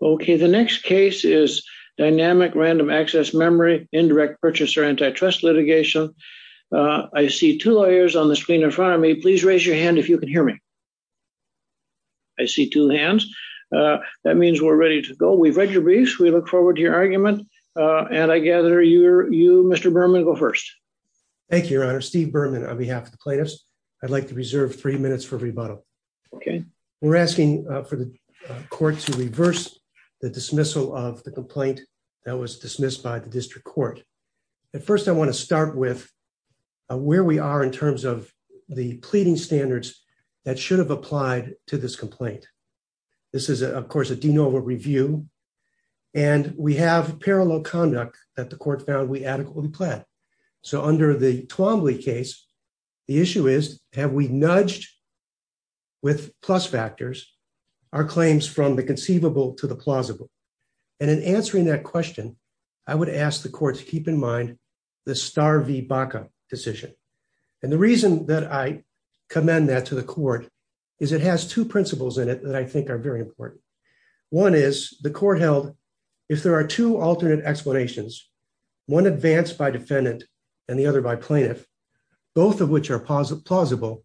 Okay, the next case is Dynamic Random Access Memory Indirect Purchaser Antitrust Litigation. I see two lawyers on the screen in front of me. Please raise your hand if you can hear me. I see two hands. That means we're ready to go. We've read your briefs. We look forward to your argument. And I gather you, Mr. Berman, go first. Thank you, Your Honor. Steve Berman on behalf of the plaintiffs. I'd like to reserve three minutes for rebuttal. Okay. We're asking for the court to reverse the dismissal of the complaint that was dismissed by the district court. First, I want to start with where we are in terms of the pleading standards that should have applied to this complaint. This is, of course, a de novo review. And we have parallel conduct that the court found we adequately planned. So under the Twombly case, the issue is, have we nudged with plus factors, our claims from the conceivable to the plausible. And in answering that question, I would ask the court to keep in mind the Starr v. Baca decision. And the reason that I commend that to the court is it has two principles in it that I think are very important. One is, the court held, if there are two alternate explanations, one advanced by defendant and the other by plaintiff, both of which are plausible,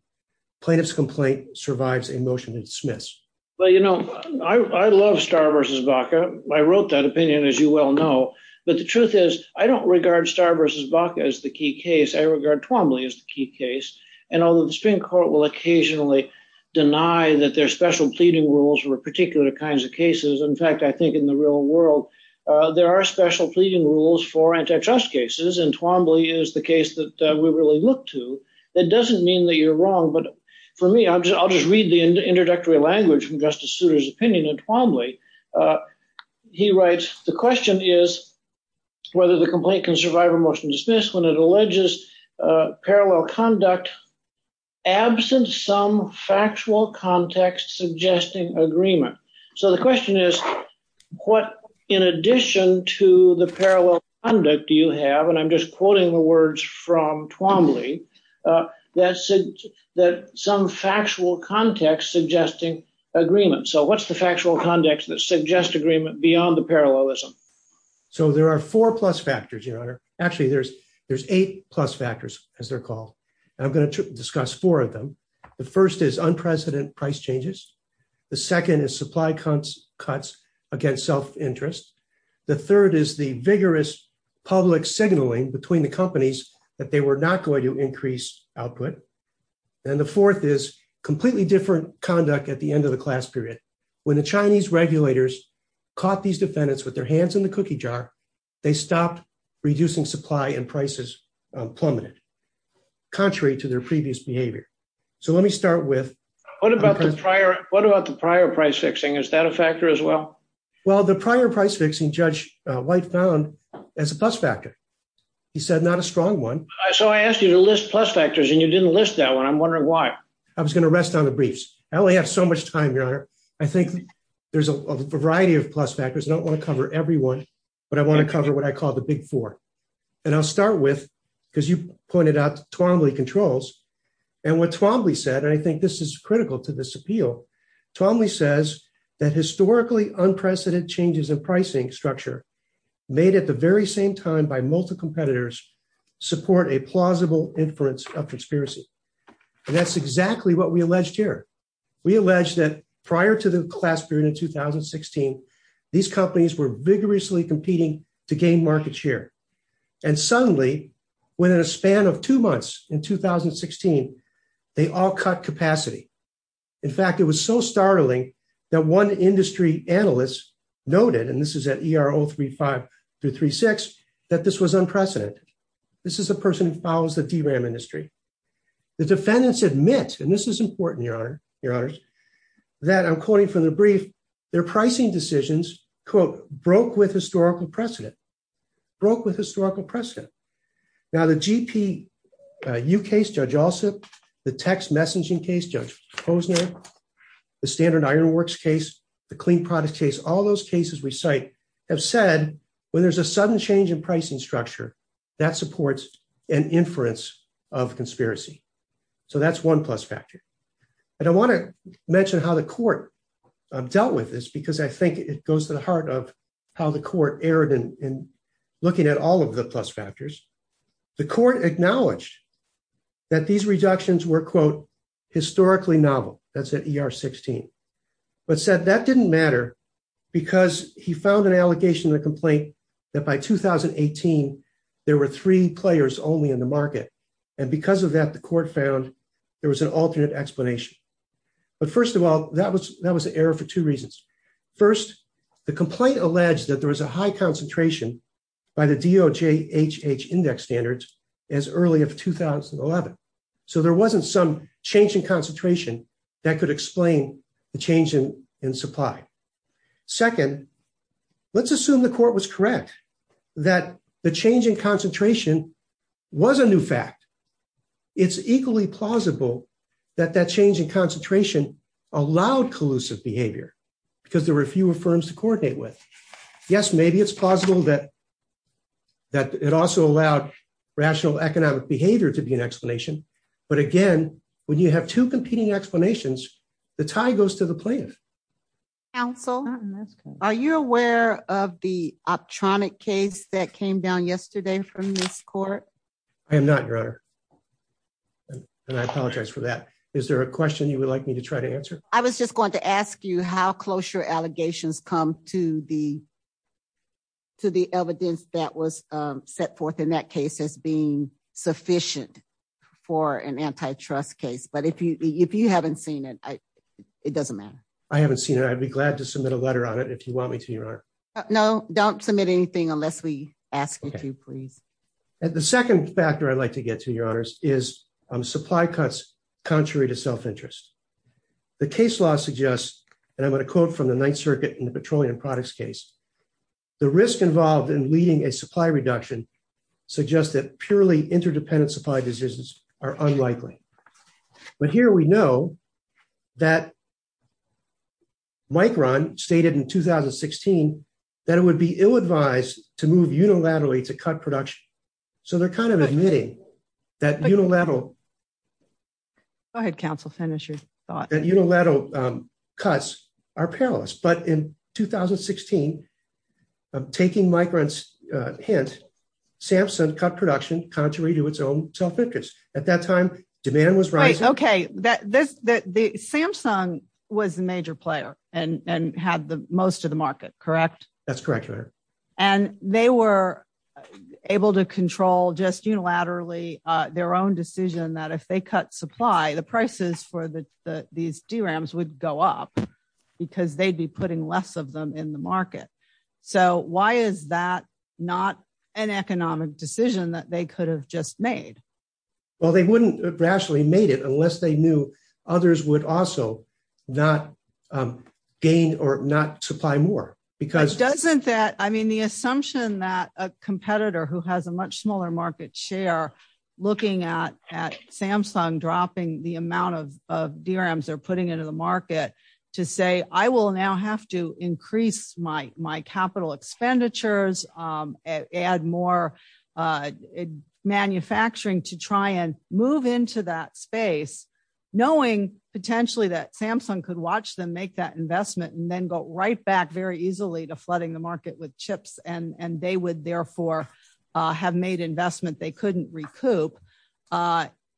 plaintiff's complaint survives a motion to dismiss. Well, you know, I love Starr v. Baca. I wrote that opinion, as you well know. But the truth is, I don't regard Starr v. Baca as the key case. I regard Twombly as the key case. And although the Supreme Court will occasionally deny that there are special pleading rules for particular kinds of cases. In fact, I think in the real world, there are special pleading rules for antitrust cases. And Twombly is the case that we really look to. That doesn't mean that you're wrong, but for me, I'll just read the introductory language from Justice Souter's opinion in Twombly. He writes, the question is whether the complaint can survive a motion to dismiss when it alleges parallel conduct, absent some factual context suggesting agreement. So the question is, what in addition to the parallel conduct do you have, and I'm just quoting the words from Twombly, that some factual context suggesting agreement. So what's the factual context that suggests agreement beyond the parallelism? So there are four plus factors, Your Honor. Actually, there's eight plus factors, as they're called. And I'm going to discuss four of them. The first is unprecedented price changes. The second is supply cuts against self-interest. The third is the vigorous public signaling between the companies that they were not going to increase output. And the fourth is completely different conduct at the end of the class period. When the Chinese regulators caught these defendants with their hands in the cookie jar, they stopped reducing supply and prices plummeted, contrary to their previous behavior. So let me start with- What about the prior price fixing? Is that a factor as well? Well, the prior price fixing, Judge White found as a plus factor. He said not a strong one. So I asked you to list plus factors, and you didn't list that one. I'm wondering why. I was going to rest on the briefs. I only have so much time, Your Honor. I think there's a variety of plus factors. I don't want to cover every one, but I want to cover what I call the big four. And I'll start with, because you pointed out, Twombly controls. And what Twombly said, and I think this is critical to this appeal, Twombly says that historically unprecedented changes in pricing structure made at the very same time by multi-competitors support a plausible inference of conspiracy. And that's exactly what we alleged here. We allege that prior to the class period in 2016, these companies were vigorously competing to gain market share. And suddenly, within a span of two months in 2016, they all cut capacity. In fact, it was so startling that one industry analyst noted, and this is at ER 035-36, that this was unprecedented. This is a person who follows the DRAM industry. The defendants admit, and this is important, Your Honor, that I'm quoting from the brief, their pricing decisions, quote, broke with historical precedent. Broke with historical precedent. Now, the GPU case, Judge Allsup, the text messaging case, Judge Posner, the standard iron works case, the clean product case, all those cases we cite have said, when there's a sudden change in pricing structure, that supports an inference of conspiracy. So that's one plus factor. And I want to mention how the court dealt with this, because I think it goes to the heart of how the court erred in looking at all of the plus factors. The court acknowledged that these reductions were, quote, historically novel. That's at ER 16. But said that didn't matter because he found an allegation in the complaint that by 2018, there were three players only in the market. And because of that, the court found there was an alternate explanation. But first of all, that was an error for two reasons. First, the complaint alleged that there was a high concentration by the DOJ HH index standards as early as 2011. So there wasn't some change in concentration that could explain the change in supply. Second, let's assume the court was correct that the change in concentration was a new fact. It's equally plausible that that change in concentration allowed collusive behavior, because there were fewer firms to coordinate with. Yes, maybe it's possible that that it also allowed rational economic behavior to be an explanation. But again, when you have two competing explanations, the tie goes to the plaintiff. So, are you aware of the optronic case that came down yesterday from this court? I am not your honor. And I apologize for that. Is there a question you would like me to try to answer. I was just going to ask you how close your allegations come to the to the evidence that was set forth in that case as being sufficient for an antitrust case. But if you if you haven't seen it, it doesn't matter. I haven't seen it. I'd be glad to submit a letter on it if you want me to. No, don't submit anything unless we ask you to please. And the second factor I'd like to get to your honors is supply cuts, contrary to self interest. The case law suggests, and I'm going to quote from the Ninth Circuit in the petroleum products case, the risk involved in leading a supply reduction suggests that purely interdependent supply decisions are unlikely. But here we know that Mike Ron stated in 2016, that it would be ill advised to move unilaterally to cut production. So they're kind of admitting that unilateral. I had counsel finish your thought that unilateral cuts are perilous but in 2016, taking migrants, hence, Samson cut production, contrary to its own self interest. At that time, demand was right. Okay, that this that the Samsung was the major player, and had the most of the market. Correct. That's correct. And they were able to control just unilaterally their own decision that if they cut supply the prices for the, these DRAMs would go up, because they'd be putting less of them in the market. So why is that not an economic decision that they could have just made. Well, they wouldn't rationally made it unless they knew others would also not gain or not supply more because doesn't that I mean the assumption that a competitor who has a much smaller market share, looking at at Samsung dropping the amount of DRMs are putting into the market to say, I will now have to increase my, my capital expenditures, add more manufacturing to try and move into that space, knowing potentially that Samsung could watch them make that investment and then go right back very easily to flooding the market with chips and they would therefore have made investment they couldn't recoup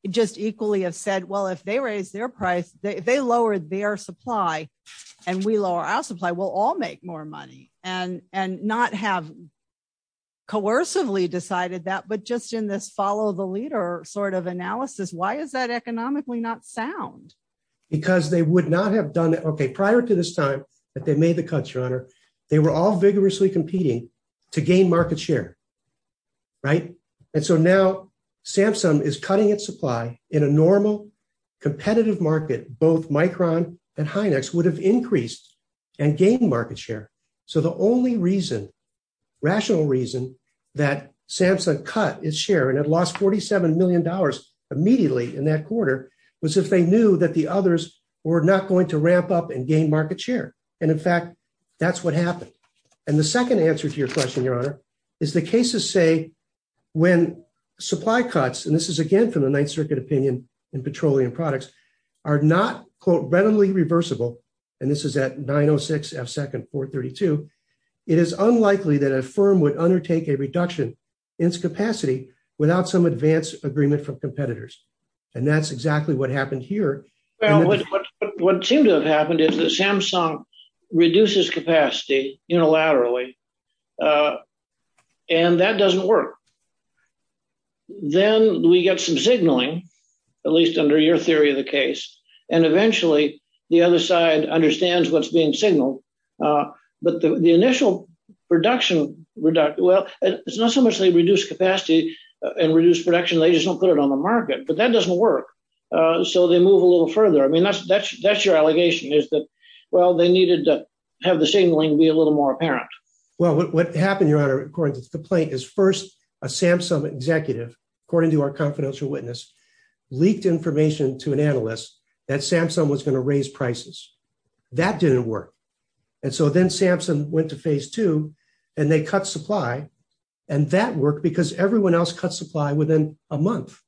just equally have said well if they raise their price, they lower their supply, and we lower our supply we'll all make more money and and not have coercively decided that but just in this follow the leader sort of analysis, why is that economically not sound, because they would not have done it okay prior to this time that they made the cut your honor. They were all vigorously competing to gain market share. Right. And so now, Samsung is cutting its supply in a normal competitive market, both micron and hynix would have increased and gain market share. So the only reason rational reason that Samsung cut its share and it lost $47 million immediately in that quarter was if they were not going to ramp up and gain market share. And in fact, that's what happened. And the second answer to your question, your honor, is the cases say when supply cuts and this is again from the Ninth Circuit opinion in petroleum products are not quote reversible. And this is that 906 F second for 32. It is unlikely that a firm would undertake a reduction in its capacity, without some advanced agreement from competitors. And that's exactly what happened here. What seemed to have happened is that Samsung reduces capacity unilaterally. And that doesn't work. Then we get some signaling, at least under your theory of the case, and eventually, the other side understands what's being signaled. But the initial production reduction, well, it's not so much they reduce capacity and reduce production, they just don't put it on the market, but that doesn't work. So they move a little further. I mean, that's that's that's your allegation is that, well, they needed to have the signaling be a little more apparent. Well, what happened, your honor, according to the plate is first, a Samsung executive, according to our confidential witness leaked information to an analyst that Samsung was going to raise prices. That didn't work. And so then Samsung went to phase two, and they cut supply. And that worked because everyone else cut supply within a month.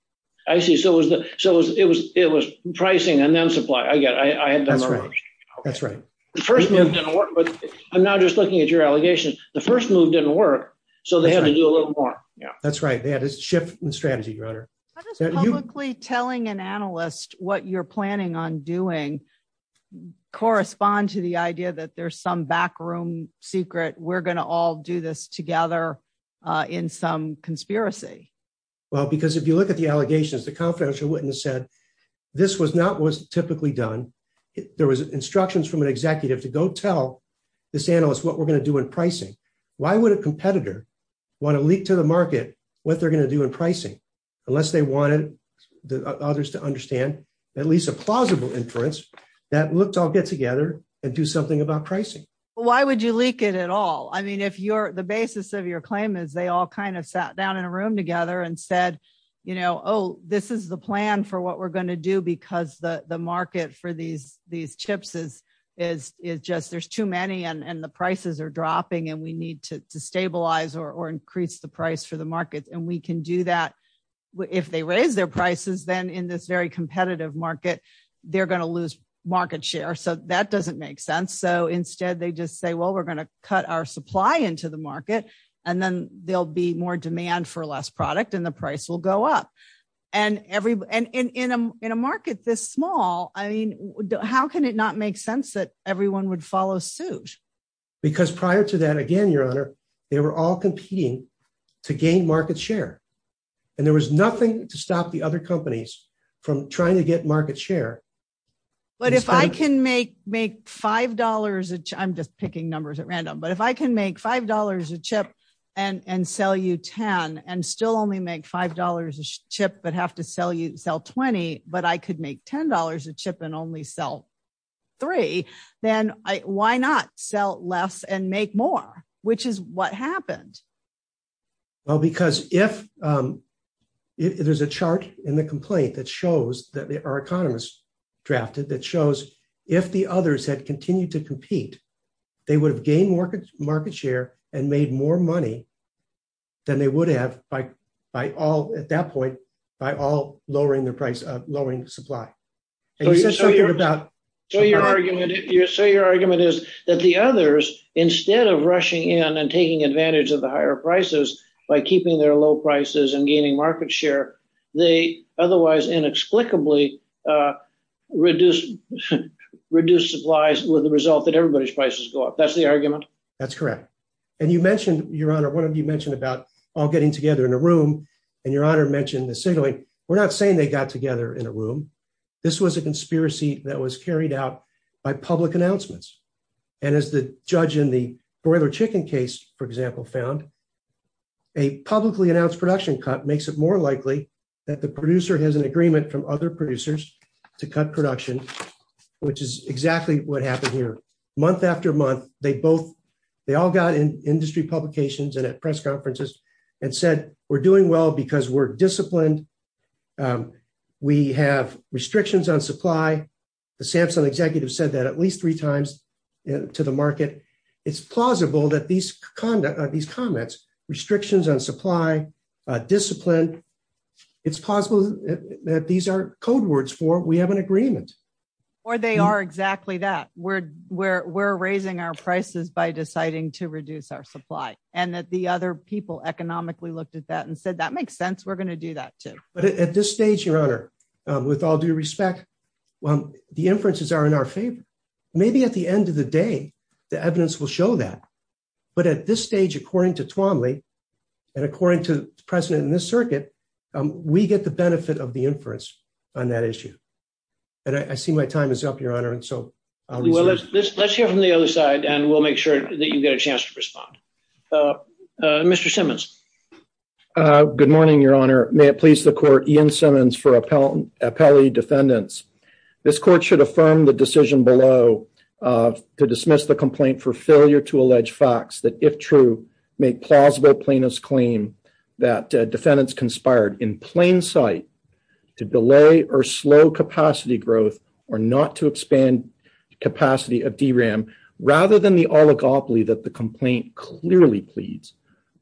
I see. So it was the so it was it was pricing and then supply. I got I had that's right. That's right. First, I'm not just looking at your allegations. The first move didn't work. So they had to do a little more. Yeah, that's right. They had to shift the strategy, your honor, publicly telling an analyst what you're planning on doing correspond to the idea that there's some backroom secret, we're going to all do this together in some conspiracy. Well, because if you look at the allegations, the confidential witness said this was not was typically done. There was instructions from an executive to go tell this analyst what we're going to do in pricing. Why would a competitor want to leak to the market what they're going to do in pricing unless they wanted the others to understand at least a plausible inference that looked I'll get together and do something about pricing. Why would you leak it at all? I mean, if you're the basis of your claim is they all kind of sat down in a room together and said, you know, oh, this is the plan for what we're going to do because the market for these these chips is is is just there's too many and the prices are dropping and we need to stabilize or increase the price for the market and we can do that. If they raise their prices, then in this very competitive market, they're going to lose market share. So that doesn't make sense. So instead, they just say, well, we're going to cut our supply into the market, and then there'll be more demand for less product and the price will go up. And in a market this small, I mean, how can it not make sense that everyone would follow suit? Because prior to that, again, Your Honor, they were all competing to gain market share. And there was nothing to stop the other companies from trying to get market share. But if I can make make $5, I'm just picking numbers at random, but if I can make $5 a chip and sell you 10 and still only make $5 a chip, but have to sell you sell 20, but I could make $10 a chip and only sell three, then why not sell less and make more, which is what happened? Well, because if there's a chart in the complaint that shows that there are economists drafted that shows if the others had continued to compete, they would have gained market share and made more money than they would have by all at that point, by all lowering the price of lowering supply. So your argument is that the others, instead of rushing in and taking advantage of the higher prices by keeping their low prices and gaining market share, they otherwise inexplicably reduce supplies with the result that everybody's prices go up. That's the argument? That's correct. And you mentioned, Your Honor, one of you mentioned about all getting together in a room, and Your Honor mentioned the signaling. We're not saying they got together in a room. This was a conspiracy that was carried out by public announcements. And as the judge in the broiler chicken case, for example, found, a publicly announced production cut makes it more likely that the producer has an agreement from other producers to cut production, which is exactly what happened here. Month after month, they all got in industry publications and at press conferences and said, we're doing well because we're disciplined. We have restrictions on supply. The Samsung executive said that at least three times to the market. It's plausible that these comments, restrictions on supply, discipline, it's possible that these are code words for we have an agreement. Or they are exactly that we're, we're, we're raising our prices by deciding to reduce our supply, and that the other people economically looked at that and said that makes sense we're going to do that too. But at this stage, Your Honor, with all due respect, well, the inferences are in our favor. Maybe at the end of the day, the evidence will show that. But at this stage, according to Twombly, and according to President in this circuit, we get the benefit of the inference on that issue. And I see my time is up, Your Honor, and so let's hear from the other side and we'll make sure that you get a chance to respond. Mr Simmons. Good morning, Your Honor, may it please the court Ian Simmons for appellate defendants. This court should affirm the decision below to dismiss the complaint for failure to allege facts that if true, make plausible plaintiffs claim that defendants conspired in plain sight to delay or slow capacity growth, or not to expand capacity of DRAM, rather than the oligopoly that the complaint clearly pleads.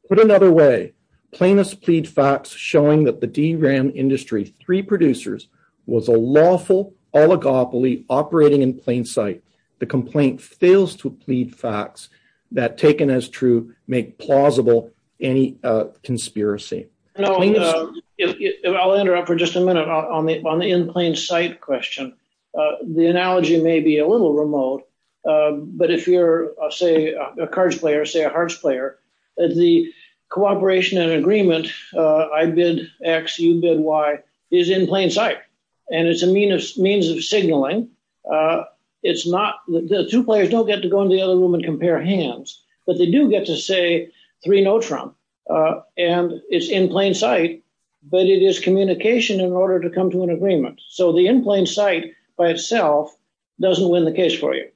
Put another way, plaintiffs plead facts showing that the DRAM industry three producers was a lawful oligopoly operating in plain sight. The complaint fails to plead facts that taken as true, make plausible any conspiracy. I'll interrupt for just a minute on the in plain sight question. The analogy may be a little remote. But if you're, say, a cards player, say a hearts player, the cooperation and agreement, I bid X, you bid Y, is in plain sight. And it's a means of signaling. It's not the two players don't get to go into the other room and compare hands, but they do get to say three no Trump. And it's in plain sight. But it is communication in order to come to an agreement. So the in plain sight by itself doesn't win the case for you.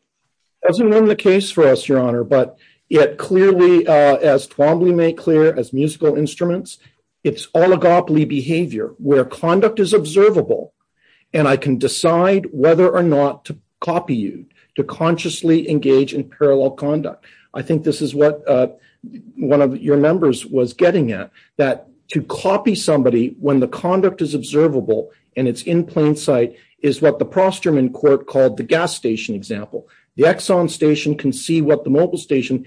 Doesn't win the case for us, Your Honor, but it clearly, as Twombly made clear as musical instruments, it's oligopoly behavior where conduct is observable. And I can decide whether or not to copy you to consciously engage in parallel conduct. I think this is what one of your members was getting at, that to copy somebody when the conduct is observable and it's in plain sight is what the Prosterman court called the gas station example. The Exxon station can see what the mobile station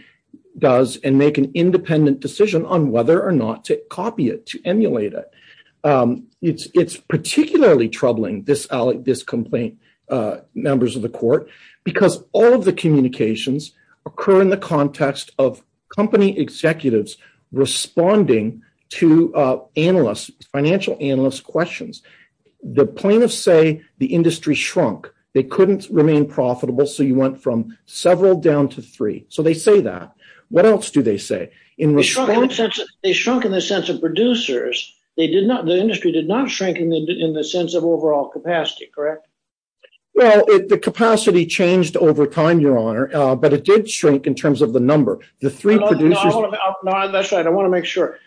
does and make an independent decision on whether or not to copy it, to emulate it. It's particularly troubling, this complaint, members of the court, because all of the communications occur in the context of company executives responding to analysts, financial analysts questions. The plaintiffs say the industry shrunk, they couldn't remain profitable, so you went from several down to three. So they say that. What else do they say? They shrunk in the sense of producers. The industry did not shrink in the sense of overall capacity, correct? Well, the capacity changed over time, Your Honor, but it did shrink in terms of the number. That's right, I want to make sure.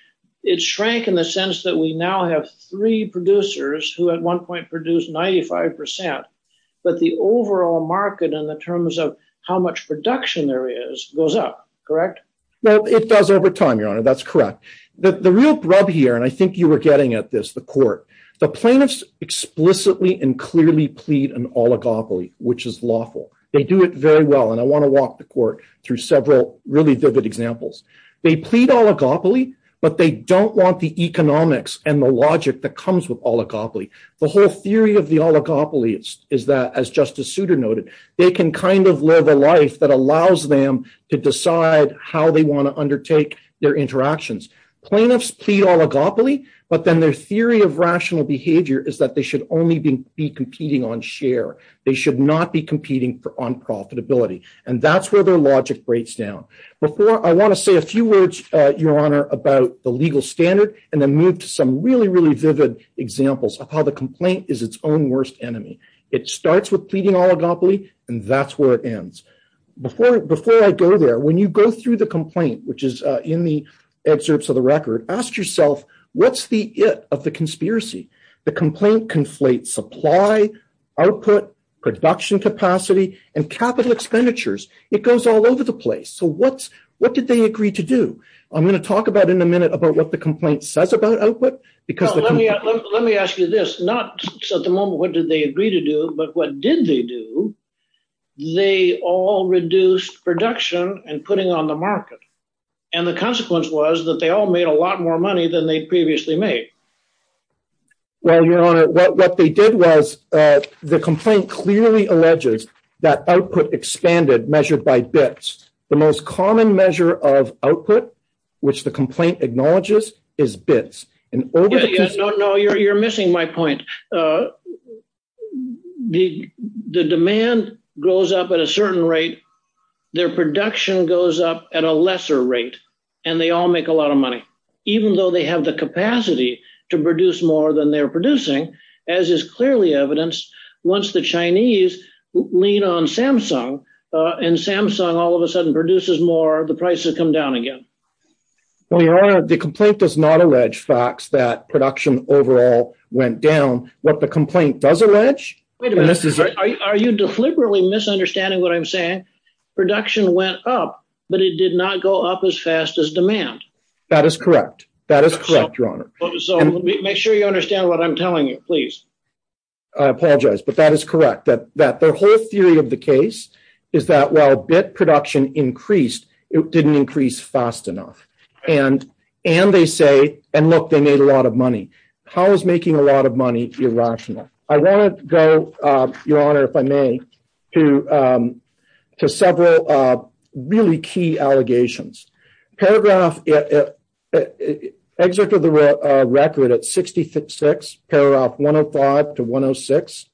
It shrank in the sense that we now have three producers who at one point produced 95%, but the overall market in the terms of how much production there is goes up, correct? Well, it does over time, Your Honor, that's correct. The real grub here, and I think you were getting at this, the court, the plaintiffs explicitly and clearly plead an oligopoly, which is lawful. They do it very well, and I want to walk the court through several really vivid examples. They plead oligopoly, but they don't want the economics and the logic that comes with oligopoly. The whole theory of the oligopoly is that, as Justice Souter noted, they can kind of live a life that allows them to decide how they want to undertake their interactions. Plaintiffs plead oligopoly, but then their theory of rational behavior is that they should only be competing on share. They should not be competing on profitability, and that's where their logic breaks down. I want to say a few words, Your Honor, about the legal standard and then move to some really, really vivid examples of how the complaint is its own worst enemy. It starts with pleading oligopoly, and that's where it ends. Before I go there, when you go through the complaint, which is in the excerpts of the record, ask yourself, what's the it of the conspiracy? The complaint conflates supply, output, production capacity, and capital expenditures. It goes all over the place. So what did they agree to do? I'm going to talk about in a minute about what the complaint says about output. Let me ask you this, not at the moment what did they agree to do, but what did they do? They all reduced production and putting on the market, and the consequence was that they all made a lot more money than they'd previously made. Well, Your Honor, what they did was the complaint clearly alleges that output expanded measured by bits. The most common measure of output, which the complaint acknowledges, is bits. No, no, you're missing my point. The demand goes up at a certain rate. Their production goes up at a lesser rate, and they all make a lot of money. Even though they have the capacity to produce more than they're producing, as is clearly evidenced, once the Chinese lean on Samsung, and Samsung all of a sudden produces more, the prices come down again. Well, Your Honor, the complaint does not allege facts that production overall went down. What the complaint does allege, and this is… Wait a minute. Are you deliberately misunderstanding what I'm saying? Production went up, but it did not go up as fast as demand. That is correct. That is correct, Your Honor. Make sure you understand what I'm telling you, please. I apologize, but that is correct. The whole theory of the case is that while bit production increased, it didn't increase fast enough. And they say, and look, they made a lot of money. How is making a lot of money irrational? I want to go, Your Honor, if I may, to several really key allegations. Excerpt of the record at 66, paragraph 105 to 106,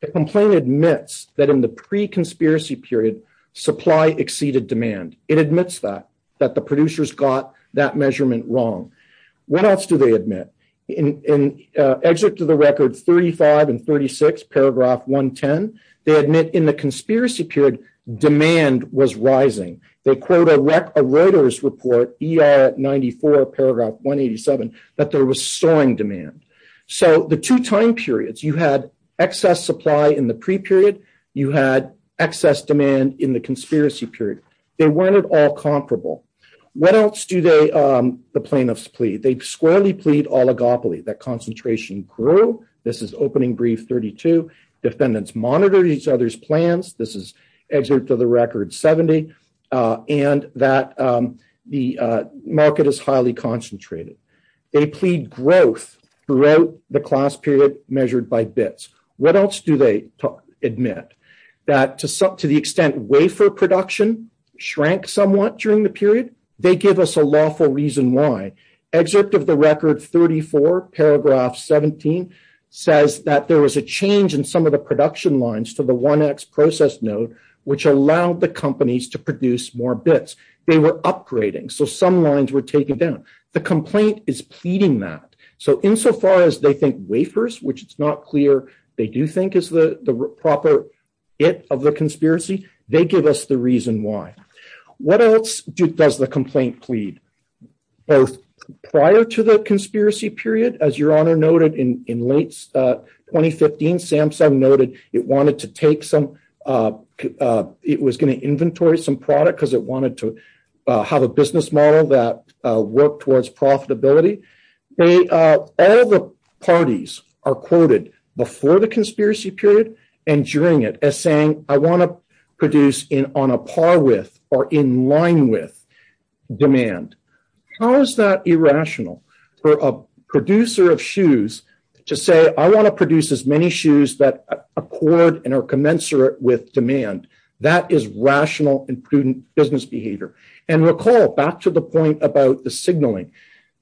the complaint admits that in the pre-conspiracy period, supply exceeded demand. It admits that, that the producers got that measurement wrong. What else do they admit? In excerpt of the record 35 and 36, paragraph 110, they admit in the conspiracy period, demand was rising. They quote a Reuters report, ER 94, paragraph 187, that there was soaring demand. So the two time periods, you had excess supply in the pre-period. You had excess demand in the conspiracy period. They weren't at all comparable. What else do the plaintiffs plead? They squarely plead oligopoly, that concentration grew. This is opening brief 32. Defendants monitored each other's plans. This is excerpt of the record 70, and that the market is highly concentrated. They plead growth throughout the class period measured by bits. What else do they admit? That to the extent wafer production shrank somewhat during the period, they give us a lawful reason why. Excerpt of the record 34, paragraph 17, says that there was a change in some of the production lines to the 1X process node, which allowed the companies to produce more bits. They were upgrading. So some lines were taken down. The complaint is pleading that. So insofar as they think wafers, which it's not clear they do think is the proper it of the conspiracy, they give us the reason why. What else does the complaint plead? Both prior to the conspiracy period, as your honor noted in late 2015, Samsung noted it wanted to take some. It was going to inventory some product because it wanted to have a business model that work towards profitability. All the parties are quoted before the conspiracy period and during it as saying, I want to produce in on a par with or in line with demand. How is that irrational for a producer of shoes to say, I want to produce as many shoes that accord and are commensurate with demand. That is rational and prudent business behavior. And recall back to the point about the signaling.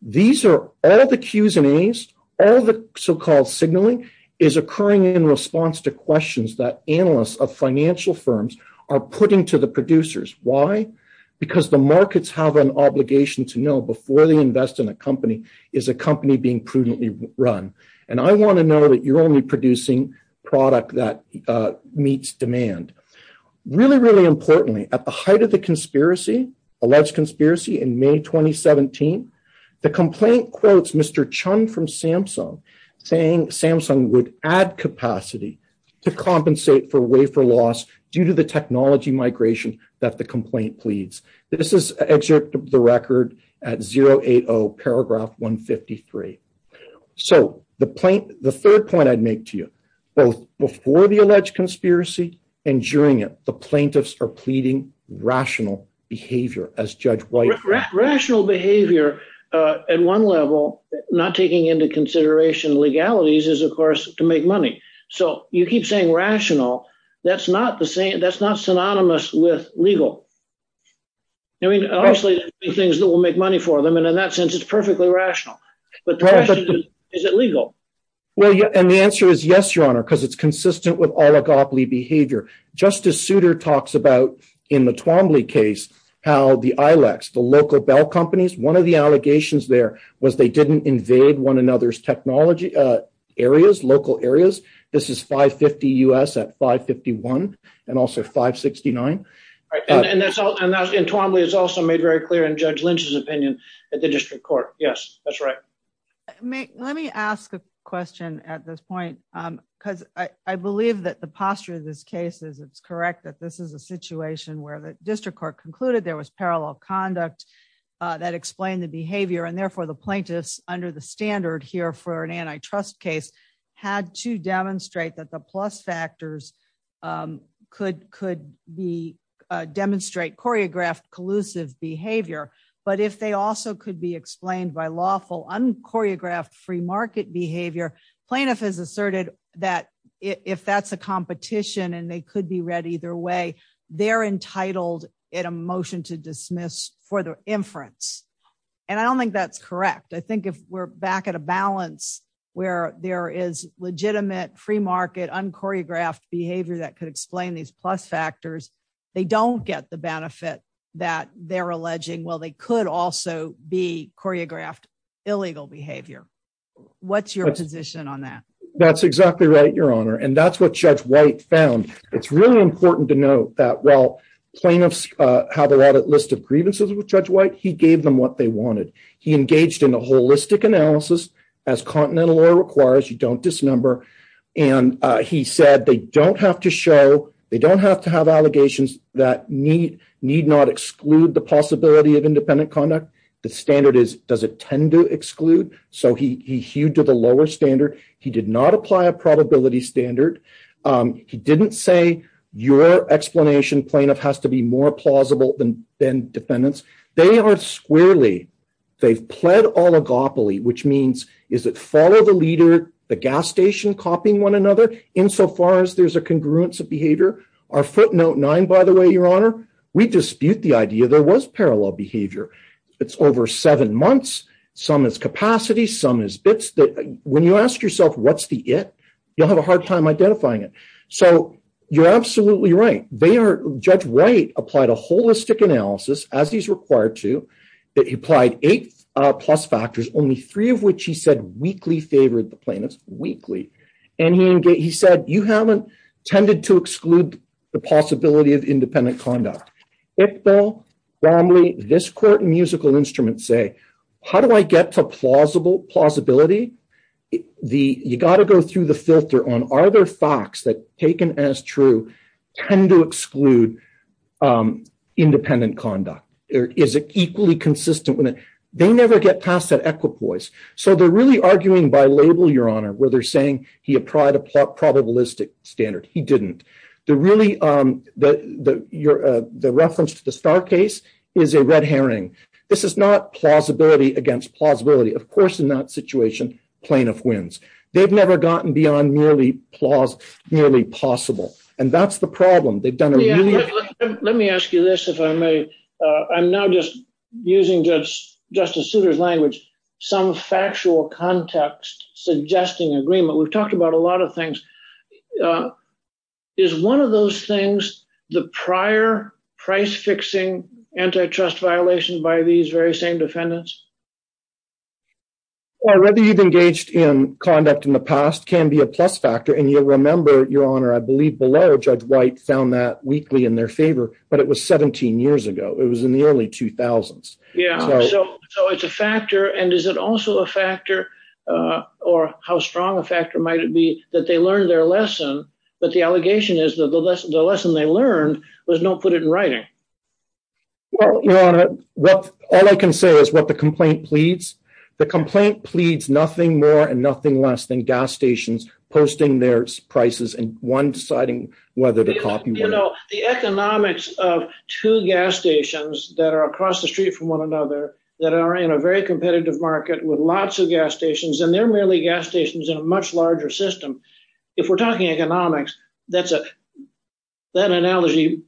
These are all the Qs and As. All the so-called signaling is occurring in response to questions that analysts of financial firms are putting to the producers. Why? Because the markets have an obligation to know before they invest in a company is a company being prudently run. And I want to know that you're only producing product that meets demand. Really, really importantly, at the height of the alleged conspiracy in May 2017, the complaint quotes Mr. Chun from Samsung saying Samsung would add capacity to compensate for wafer loss due to the technology migration that the complaint pleads. This is excerpt of the record at 080 paragraph 153. So the third point I'd make to you, both before the alleged conspiracy and during it, the plaintiffs are pleading rational behavior as Judge White. Rational behavior at one level, not taking into consideration legalities is, of course, to make money. So you keep saying rational. That's not the same. That's not synonymous with legal. I mean, honestly, things that will make money for them. And in that sense, it's perfectly rational. But is it legal? Well, and the answer is yes, Your Honor, because it's consistent with oligopoly behavior. Justice Souter talks about in the Twombly case, how the Ilex, the local bell companies, one of the allegations there was they didn't invade one another's technology areas, local areas. This is 550 US at 551 and also 569. And that's all in Twombly. It's also made very clear in Judge Lynch's opinion at the district court. Yes, that's right. Let me ask a question at this point, because I believe that the posture of this case is it's correct that this is a situation where the district court concluded there was parallel conduct that explained the behavior. And therefore, the plaintiffs under the standard here for an antitrust case had to demonstrate that the plus factors could could be demonstrate choreographed collusive behavior. But if they also could be explained by lawful unchoreographed free market behavior, plaintiff has asserted that if that's a competition and they could be read either way, they're entitled in a motion to dismiss for the inference. And I don't think that's correct. I think if we're back at a balance where there is legitimate free market unchoreographed behavior that could explain these plus factors. They don't get the benefit that they're alleging well they could also be choreographed illegal behavior. What's your position on that? That's exactly right, Your Honor. And that's what Judge White found. It's really important to note that while plaintiffs have a list of grievances with Judge White, he gave them what they wanted. He engaged in a holistic analysis as continental law requires you don't dismember. And he said they don't have to show they don't have to have allegations that need need not exclude the possibility of independent conduct. The standard is does it tend to exclude. So he hewed to the lower standard. He did not apply a probability standard. He didn't say your explanation plaintiff has to be more plausible than than defendants. They are squarely. They've pled oligopoly, which means is it follow the leader, the gas station copying one another insofar as there's a congruence of behavior. Our footnote nine, by the way, Your Honor, we dispute the idea there was parallel behavior. It's over seven months. Some is capacity. Some is bits. When you ask yourself, what's the it, you'll have a hard time identifying it. So you're absolutely right. They are. Judge White applied a holistic analysis as he's required to that he applied eight plus factors, only three of which he said weekly favored the plaintiffs weekly. And he said you haven't tended to exclude the possibility of independent conduct. Well, normally this court musical instruments say, how do I get to plausible plausibility. The you got to go through the filter on are there facts that taken as true tend to exclude independent conduct, or is it equally consistent with it. So they're really arguing by label, Your Honor, where they're saying he applied a probabilistic standard he didn't the really the, the, your, the reference to the star case is a red herring. This is not plausibility against plausibility of course in that situation, plaintiff wins, they've never gotten beyond nearly plausible nearly possible. And that's the problem they've done. Let me ask you this, if I may. I'm now just using just just as soon as language, some factual context, suggesting agreement we've talked about a lot of things is one of those things, the prior price fixing antitrust violation by these very same defendants, or whether you've engaged in conduct in the past can be a plus factor and you'll remember, Your Honor, I believe below judge white found that weekly in their favor, but it was 17 years ago it was in the early 2000s. Yeah, so it's a factor and is it also a factor, or how strong a factor might it be that they learned their lesson, but the allegation is that the lesson the lesson they learned was don't put it in writing. Well, all I can say is what the complaint pleads the complaint pleads nothing more and nothing less than gas stations, posting their prices and one deciding whether to copy, you know, the economics of two gas stations that are across the street from one another that are in a very competitive market with lots of gas stations and they're really gas stations in a much larger system. If we're talking economics, that's it. That analogy.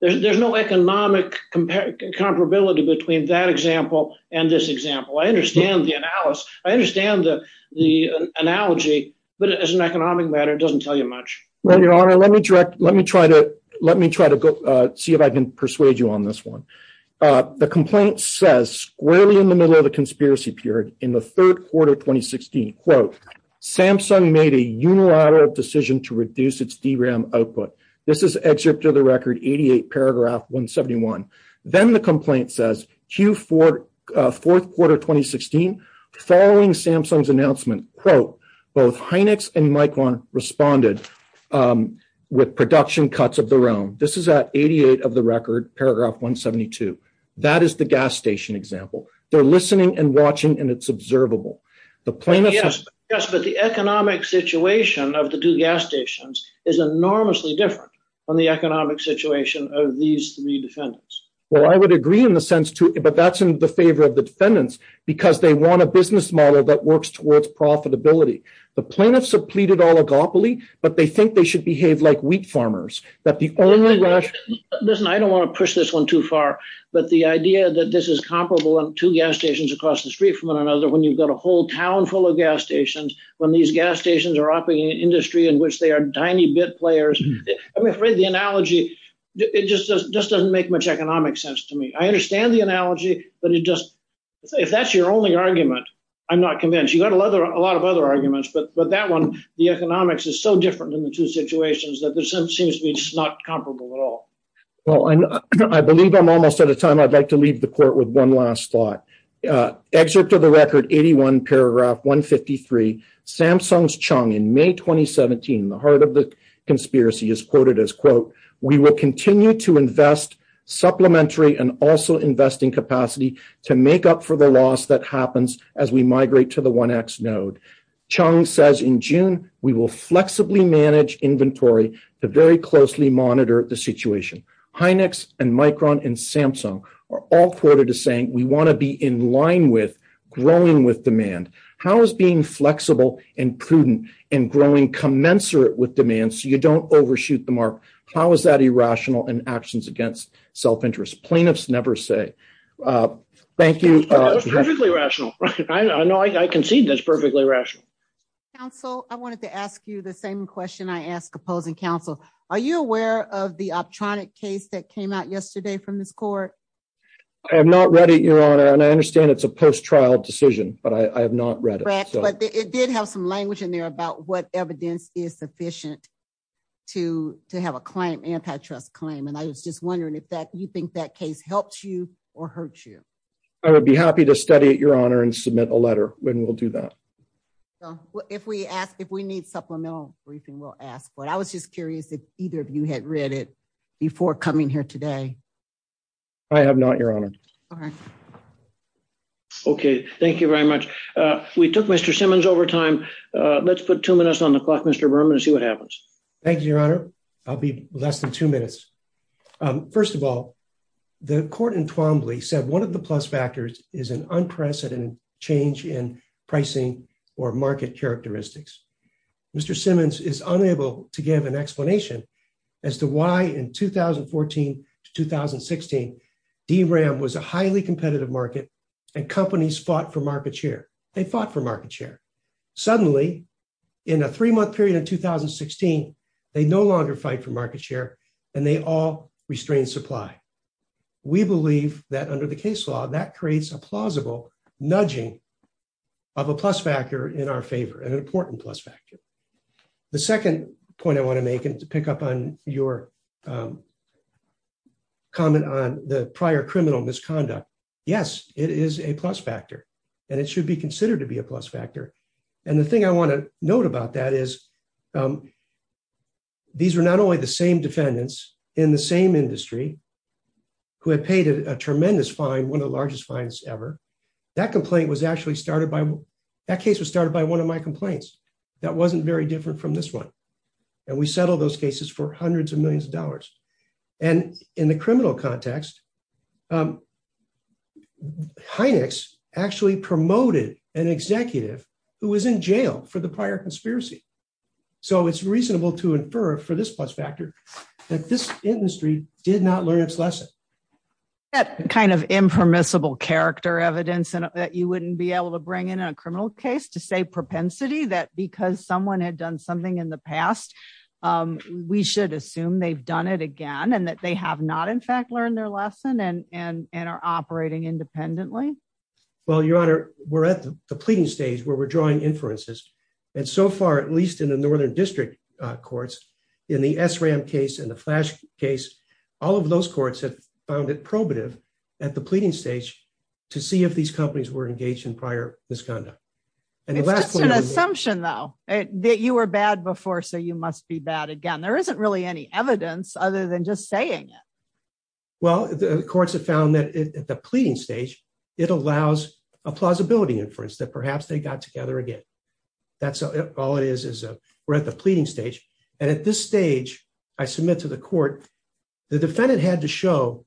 There's no economic comparability between that example, and this example I understand the analysis, I understand the, the analogy, but as an economic matter doesn't tell you much. Well, Your Honor, let me direct, let me try to let me try to see if I can persuade you on this one. The complaint says squarely in the middle of the conspiracy period in the third quarter 2016 quote, Samsung made a unilateral decision to reduce its DRAM output. This is excerpt of the record 88 paragraph 171, then the complaint says, Q for fourth quarter 2016 following Samsung's announcement, quote, both hynix and micron responded with production cuts of their own, this is at 88 of the record paragraph 172. That is the gas station example, they're listening and watching and it's observable. Yes, but the economic situation of the two gas stations is enormously different on the economic situation of these three defendants. Well, I would agree in the sense too, but that's in the favor of the defendants, because they want a business model that works towards profitability. The plaintiffs have pleaded oligopoly, but they think they should behave like wheat farmers. Listen, I don't want to push this one too far, but the idea that this is comparable to gas stations across the street from one another when you've got a whole town full of gas stations, when these gas stations are operating industry in which they are tiny bit players. I'm afraid the analogy, it just doesn't make much economic sense to me. I understand the analogy, but it just, if that's your only argument. I'm not convinced you got a lot of other arguments but but that one, the economics is so different than the two situations that there's some seems to be just not comparable at all. Well, I believe I'm almost at a time I'd like to leave the court with one last thought. Excerpt of the record 81 paragraph 153 Samsung's Chung in May 2017 the heart of the conspiracy is quoted as quote, we will continue to invest supplementary and also investing capacity to make up for the loss that happens as we migrate to the one x node. Chung says in June, we will flexibly manage inventory, the very closely monitor the situation, hynix and micron and Samsung are all quoted as saying we want to be in line with growing with demand, how is being flexible and prudent and growing commensurate with demand so you don't overshoot the mark. How is that irrational and actions against self interest plaintiffs never say. Thank you. Perfectly rational. I know I can see that's perfectly rational. So, I wanted to ask you the same question I asked opposing counsel. Are you aware of the optronic case that came out yesterday from this court. I'm not ready your honor and I understand it's a post trial decision, but I have not read it, but it did have some language in there about what evidence is sufficient to, to have a client antitrust claim and I was just wondering if that you think that case helps you or hurt you. I would be happy to study at your honor and submit a letter, when we'll do that. If we ask if we need supplemental briefing will ask what I was just curious if either of you had read it before coming here today. I have not your honor. Okay, thank you very much. We took Mr Simmons over time. Let's put two minutes on the clock Mr Burman and see what happens. Thank you, Your Honor. I'll be less than two minutes. First of all, the court in Twombly said one of the plus factors is an unprecedented change in pricing or market characteristics. Mr Simmons is unable to give an explanation as to why in 2014 to 2016 DRAM was a highly competitive market and companies fought for market share, they fought for market share. Suddenly, in a three month period in 2016, they no longer fight for market share, and they all restrained supply. We believe that under the case law that creates a plausible nudging of a plus factor in our favor and important plus factor. The second point I want to make and to pick up on your comment on the prior criminal misconduct. Yes, it is a plus factor, and it should be considered to be a plus factor. And the thing I want to note about that is these are not only the same defendants in the same industry who had paid a tremendous fine one of the largest fines ever. That complaint was actually started by that case was started by one of my complaints. That wasn't very different from this one. And we settled those cases for hundreds of millions of dollars. And in the criminal context. Hynex actually promoted an executive who was in jail for the prior conspiracy. So it's reasonable to infer for this plus factor that this industry did not learn its lesson. That kind of impermissible character evidence and that you wouldn't be able to bring in a criminal case to say propensity that because someone had done something in the past. We should assume they've done it again and that they have not in fact learned their lesson and and and are operating independently. Well, Your Honor, we're at the pleading stage where we're drawing inferences. And so far, at least in the northern district courts in the SRAM case and the flash case. All of those courts have found it probative at the pleading stage to see if these companies were engaged in prior misconduct. And the last assumption though that you were bad before so you must be bad again there isn't really any evidence other than just saying it. Well, the courts have found that the pleading stage, it allows a plausibility inference that perhaps they got together again. That's all it is is a we're at the pleading stage. And at this stage, I submit to the court. The defendant had to show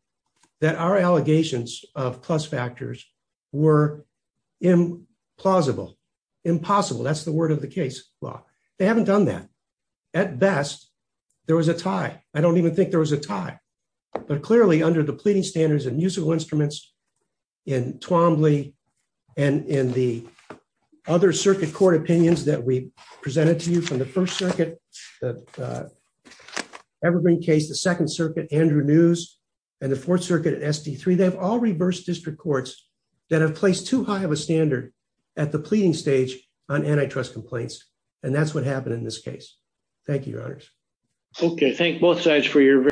that our allegations of plus factors were in plausible impossible that's the word of the case law. They haven't done that. At best, there was a tie. I don't even think there was a tie, but clearly under the pleading standards and musical instruments in Twombly, and in the other circuit court opinions that we presented to you from the First Circuit. Evergreen case the Second Circuit Andrew news, and the Fourth Circuit at SD three they've all reversed district courts that have placed too high of a standard at the pleading stage on antitrust complaints. And that's what happened in this case. Thank you. Okay, thank both sides for your